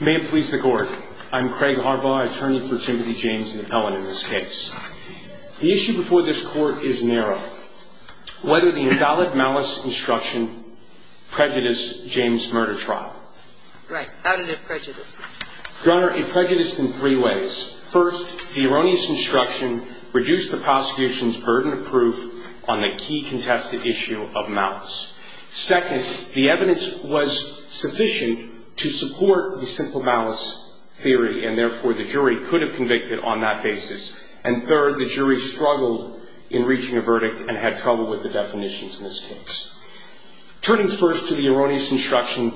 May it please the Court. I'm Craig Harbaugh, attorney for Timothy James and Helen in this case. The issue before this Court is narrow. Whether the invalid malice instruction prejudiced James' murder trial. Right. How did it prejudice? Your Honor, it prejudiced in three ways. First, the erroneous instruction reduced the prosecution's burden of proof on the key contested issue of malice. Second, the evidence was sufficient to support the simple malice theory and therefore the jury could have convicted on that basis. And third, the jury struggled in reaching a verdict and had trouble with the definitions in this case. Turning first to the erroneous instruction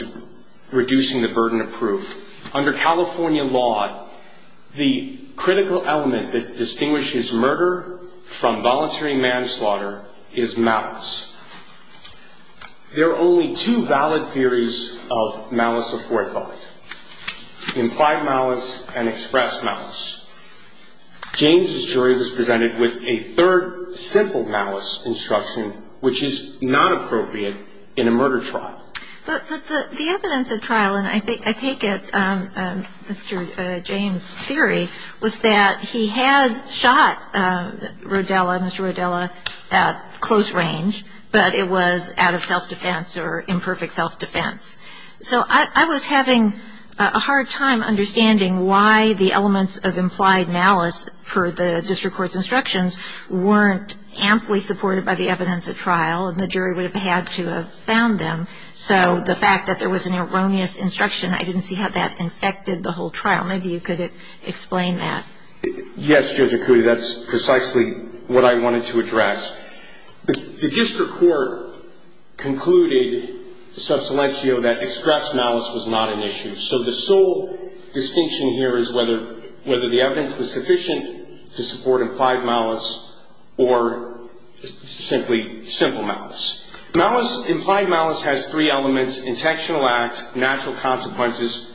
reducing the burden of proof. Under California law, the critical element that distinguishes murder from voluntary manslaughter is malice. There are only two valid theories of malice aforethought. Implied malice and expressed malice. James' jury was presented with a third simple malice instruction which is not appropriate in a murder trial. But the evidence at trial, and I take it Mr. James' theory, was that he had shot Rodella, Mr. Rodella, at close range, but it was out of self-defense or imperfect self-defense. So I was having a hard time understanding why the elements of implied malice for the district court's instructions weren't amply supported by the evidence at trial and the jury would have had to have found them. So the fact that there was an erroneous instruction, I didn't see how that infected the whole trial. Maybe you could explain that. Yes, Judge Akuti, that's precisely what I wanted to address. The district court concluded, sub silencio, that expressed malice was not an issue. So the sole distinction here is whether the evidence was sufficient to support implied malice or simply simple malice. Implied malice has three elements. Intentional act, natural consequences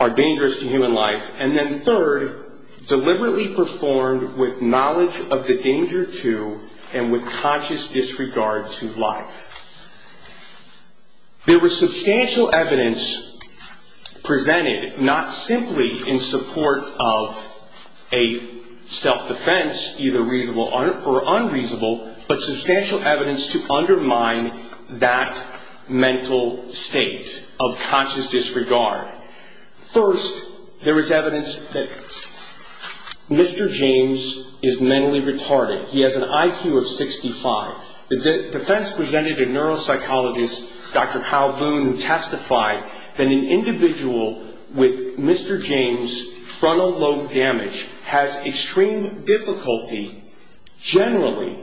are dangerous to human life. And then third, deliberately performed with knowledge of the danger to and with conscious disregard to life. There was substantial evidence presented, not simply in support of a self-defense, either reasonable or unreasonable, but substantial evidence to undermine that mental state of conscious disregard. First, there was evidence that Mr. James is mentally retarded. He has an IQ of 65. The defense presented a neuropsychologist, Dr. Hal Boone, who testified that an individual with Mr. James' frontal lobe damage has extreme difficulty generally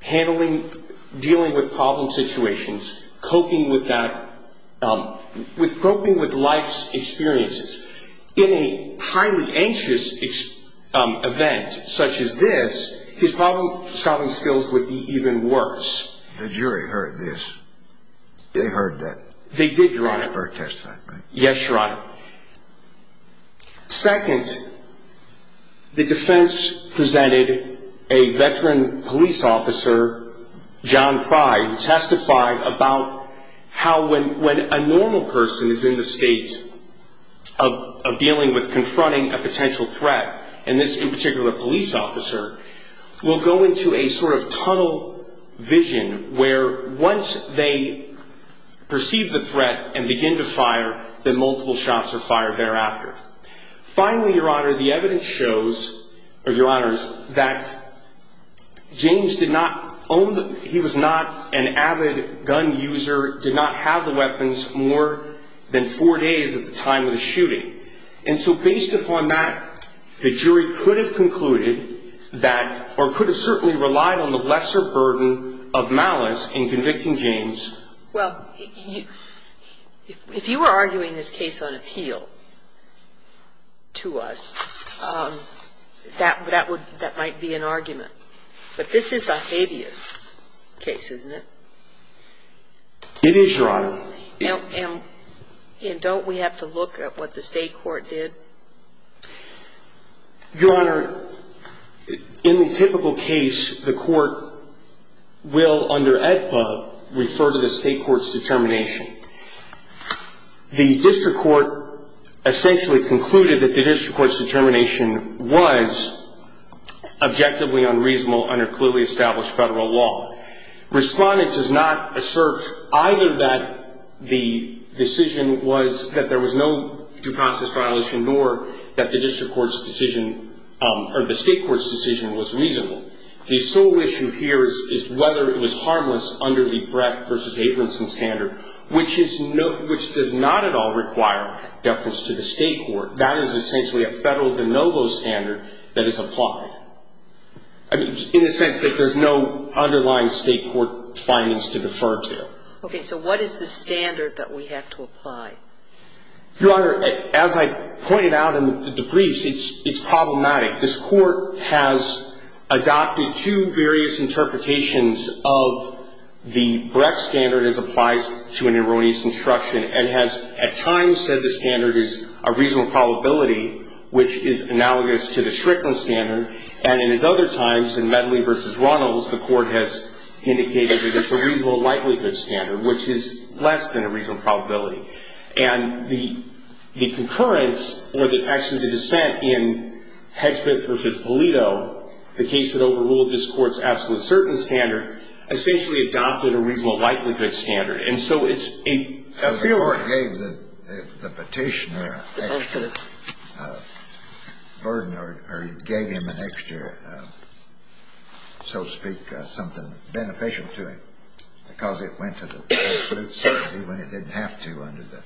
handling, dealing with problem situations, coping with that, coping with life's experiences. In a highly anxious event such as this, his problem-solving skills would be even worse. The jury heard this. They heard that. They did, Your Honor. Yes, Your Honor. Second, the defense presented a veteran police officer, John Fry, who testified about how when a normal person is in the state of dealing with confronting a potential threat, and this, in particular, a police officer, will go into a sort of tunnel vision where once they perceive the threat and begin to fire, then multiple shots are fired thereafter. Finally, Your Honor, the evidence shows, Your Honors, that James did not own the, he was not an avid gun user, did not have the weapons more than four days at the time of the shooting. And so based upon that, the jury could have concluded that, or could have certainly relied on the lesser burden of malice in convicting James. Well, if you were arguing this case on appeal to us, that might be an argument. But this is a hideous case, isn't it? It is, Your Honor. And don't we have to look at what the state court did? Your Honor, in the typical case, the court will, under AEDPA, refer to the state court's determination. The district court essentially concluded that the district court's determination was objectively unreasonable under clearly established federal law. Respondent does not assert either that the decision was, that there was no due process violation, nor that the district court's decision, or the state court's decision was reasonable. The sole issue here is whether it was harmless under the Brett v. Abramson standard, which does not at all require deference to the state court. That is essentially a federal de novo standard that is applied. I mean, in the sense that there's no underlying state court findings to defer to. Okay. So what is the standard that we have to apply? Your Honor, as I pointed out in the briefs, it's problematic. This Court has adopted two various interpretations of the Brett standard as applies to an erroneous instruction, and has at times said the standard is a reasonable probability, which is analogous to the Strickland standard, and in his other times, in Medley v. Runnels, the Court has indicated that it's a reasonable likelihood standard, which is less than a reasonable probability. And the concurrence, or the action to dissent in Hedgman v. Polito, the case that overruled this Court's absolute certain standard, essentially adopted a reasonable likelihood standard. And so it's a field of question. So the Court gave the Petitioner an extra burden, or gave him an extra, so to speak, something beneficial to him, because it went to the absolute certainty when it didn't have to under the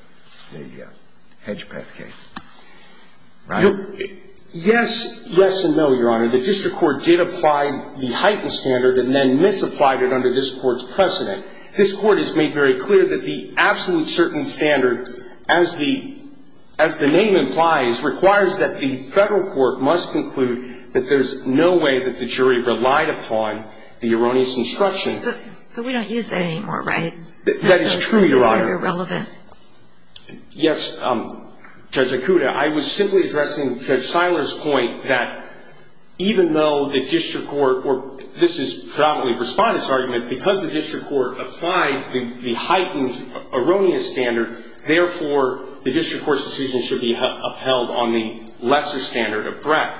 Hedgepeth case, right? Yes, yes and no, Your Honor. The district court did apply the heightened standard and then misapplied it under this Court's precedent. This Court has made very clear that the absolute certain standard, as the name implies, requires that the federal court must conclude that there's no way that the jury relied upon the erroneous instruction. But we don't use that anymore, right? That is true, Your Honor. It's very irrelevant. Yes, Judge Akuta, I was simply addressing Judge Seiler's point that even though the district court, or this is probably Respondent's argument, because the district court applied the heightened erroneous standard, therefore, the district court's decision should be upheld on the lesser standard of Brett.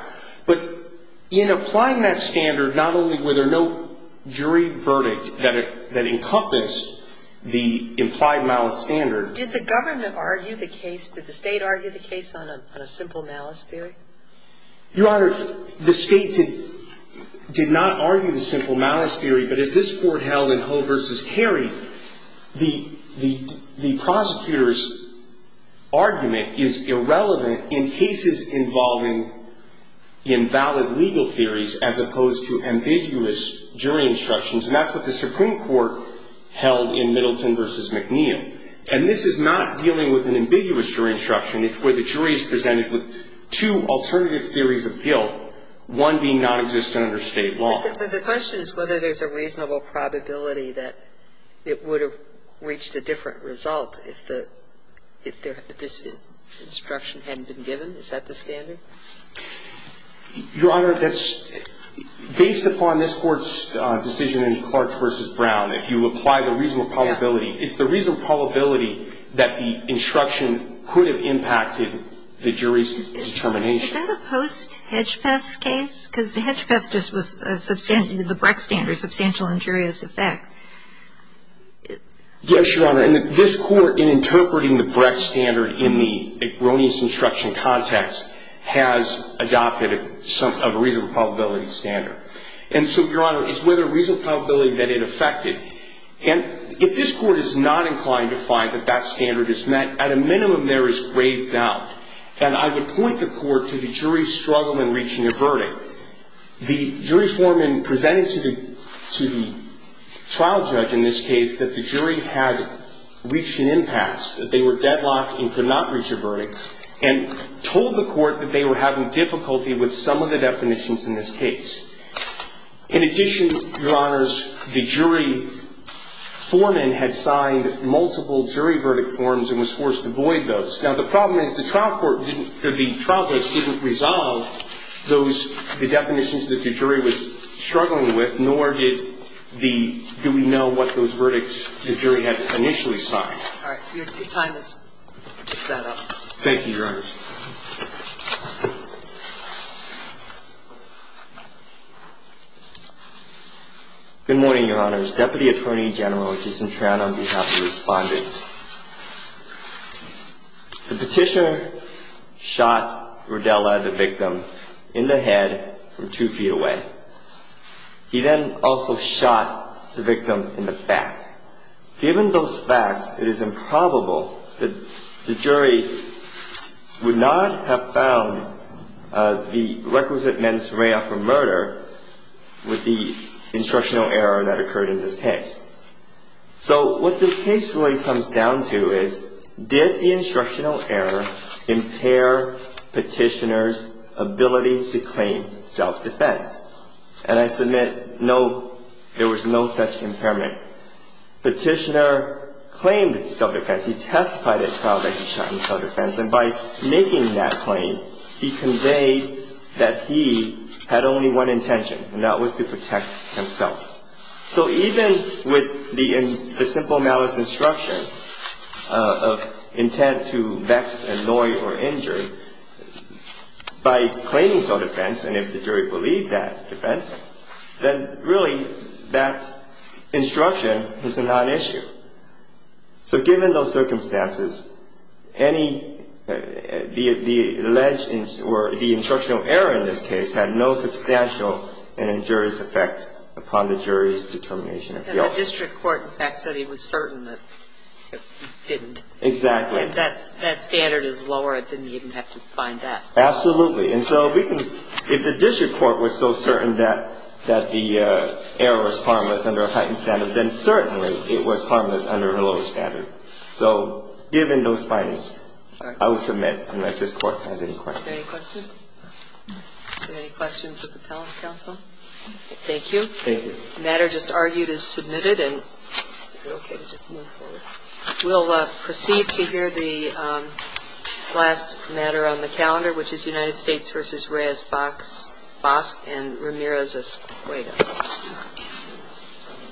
But in applying that standard, not only were there no jury verdict that encompassed the implied malice standard. Did the government argue the case, did the State argue the case on a simple malice theory? Your Honor, the State did not argue the simple malice theory. But as this Court held in Ho versus Carey, the prosecutor's argument is irrelevant in cases involving invalid legal theories as opposed to ambiguous jury instructions. And that's what the Supreme Court held in Middleton versus McNeil. And this is not dealing with an ambiguous jury instruction. It's where the jury is presented with two alternative theories of guilt, one being nonexistent under State law. But the question is whether there's a reasonable probability that it would have reached a different result if this instruction hadn't been given. Is that the standard? Your Honor, based upon this Court's decision in Clark versus Brown, if you apply the reasonable probability, it's the reasonable probability that the instruction could have impacted the jury's determination. Is that a post-Hedgepeth case? Because Hedgepeth just was the Brecht standard, substantial injurious effect. Yes, Your Honor. And this Court, in interpreting the Brecht standard in the erroneous instruction context, has adopted a reasonable probability standard. And so, Your Honor, it's with a reasonable probability that it affected. And if this Court is not inclined to find that that standard is met, at a minimum, there is grave doubt. And I would point the Court to the jury's struggle in reaching a verdict. The jury foreman presented to the trial judge in this case that the jury had reached an impasse, that they were deadlocked and could not reach a verdict, and told the Court that they were having difficulty with some of the definitions in this case. In addition, Your Honors, the jury foreman had signed multiple jury verdict forms and was forced to void those. Now, the problem is the trial court didn't, the trial judge didn't resolve those, the definitions that the jury was struggling with, nor did the, do we know what those verdicts the jury had initially signed. All right. Your time is set up. Thank you, Your Honors. Good morning, Your Honors. Deputy Attorney General Jason Tran, on behalf of the Respondents. The petitioner shot Rodella, the victim, in the head from two feet away. He then also shot the victim in the back. Given those facts, it is improbable that the jury would not have found the requisite men's array after murder with the instructional error that occurred in this case. So, what this case really comes down to is, did the instructional error impair petitioner's ability to claim self-defense? And I submit no, there was no such impairment. Petitioner claimed self-defense. He testified at trial that he shot in self-defense. And by making that claim, he conveyed that he had only one intention, and that was to protect himself. So, even with the simple malice instruction of intent to vex, annoy, or injure, by claiming self-defense, and if the jury believed that defense, then really that instruction is a non-issue. So, given those circumstances, any, the alleged, or the instructional error in this case, had no substantial and injurious effect upon the jury's determination of guilt. And the district court, in fact, said it was certain that it didn't. Exactly. And that standard is lower. It didn't even have to find that. Absolutely. And so, if the district court was so certain that the error was harmless under a heightened standard, then certainly it was harmless under a lower standard. So, given those findings, I will submit unless this court has any questions. Are there any questions? Are there any questions of the panel's counsel? Thank you. Thank you. The matter just argued is submitted, and is it okay to just move forward? We'll proceed to hear the last matter on the calendar, which is United States v. Reyes-Bosk and Ramirez-Escueda.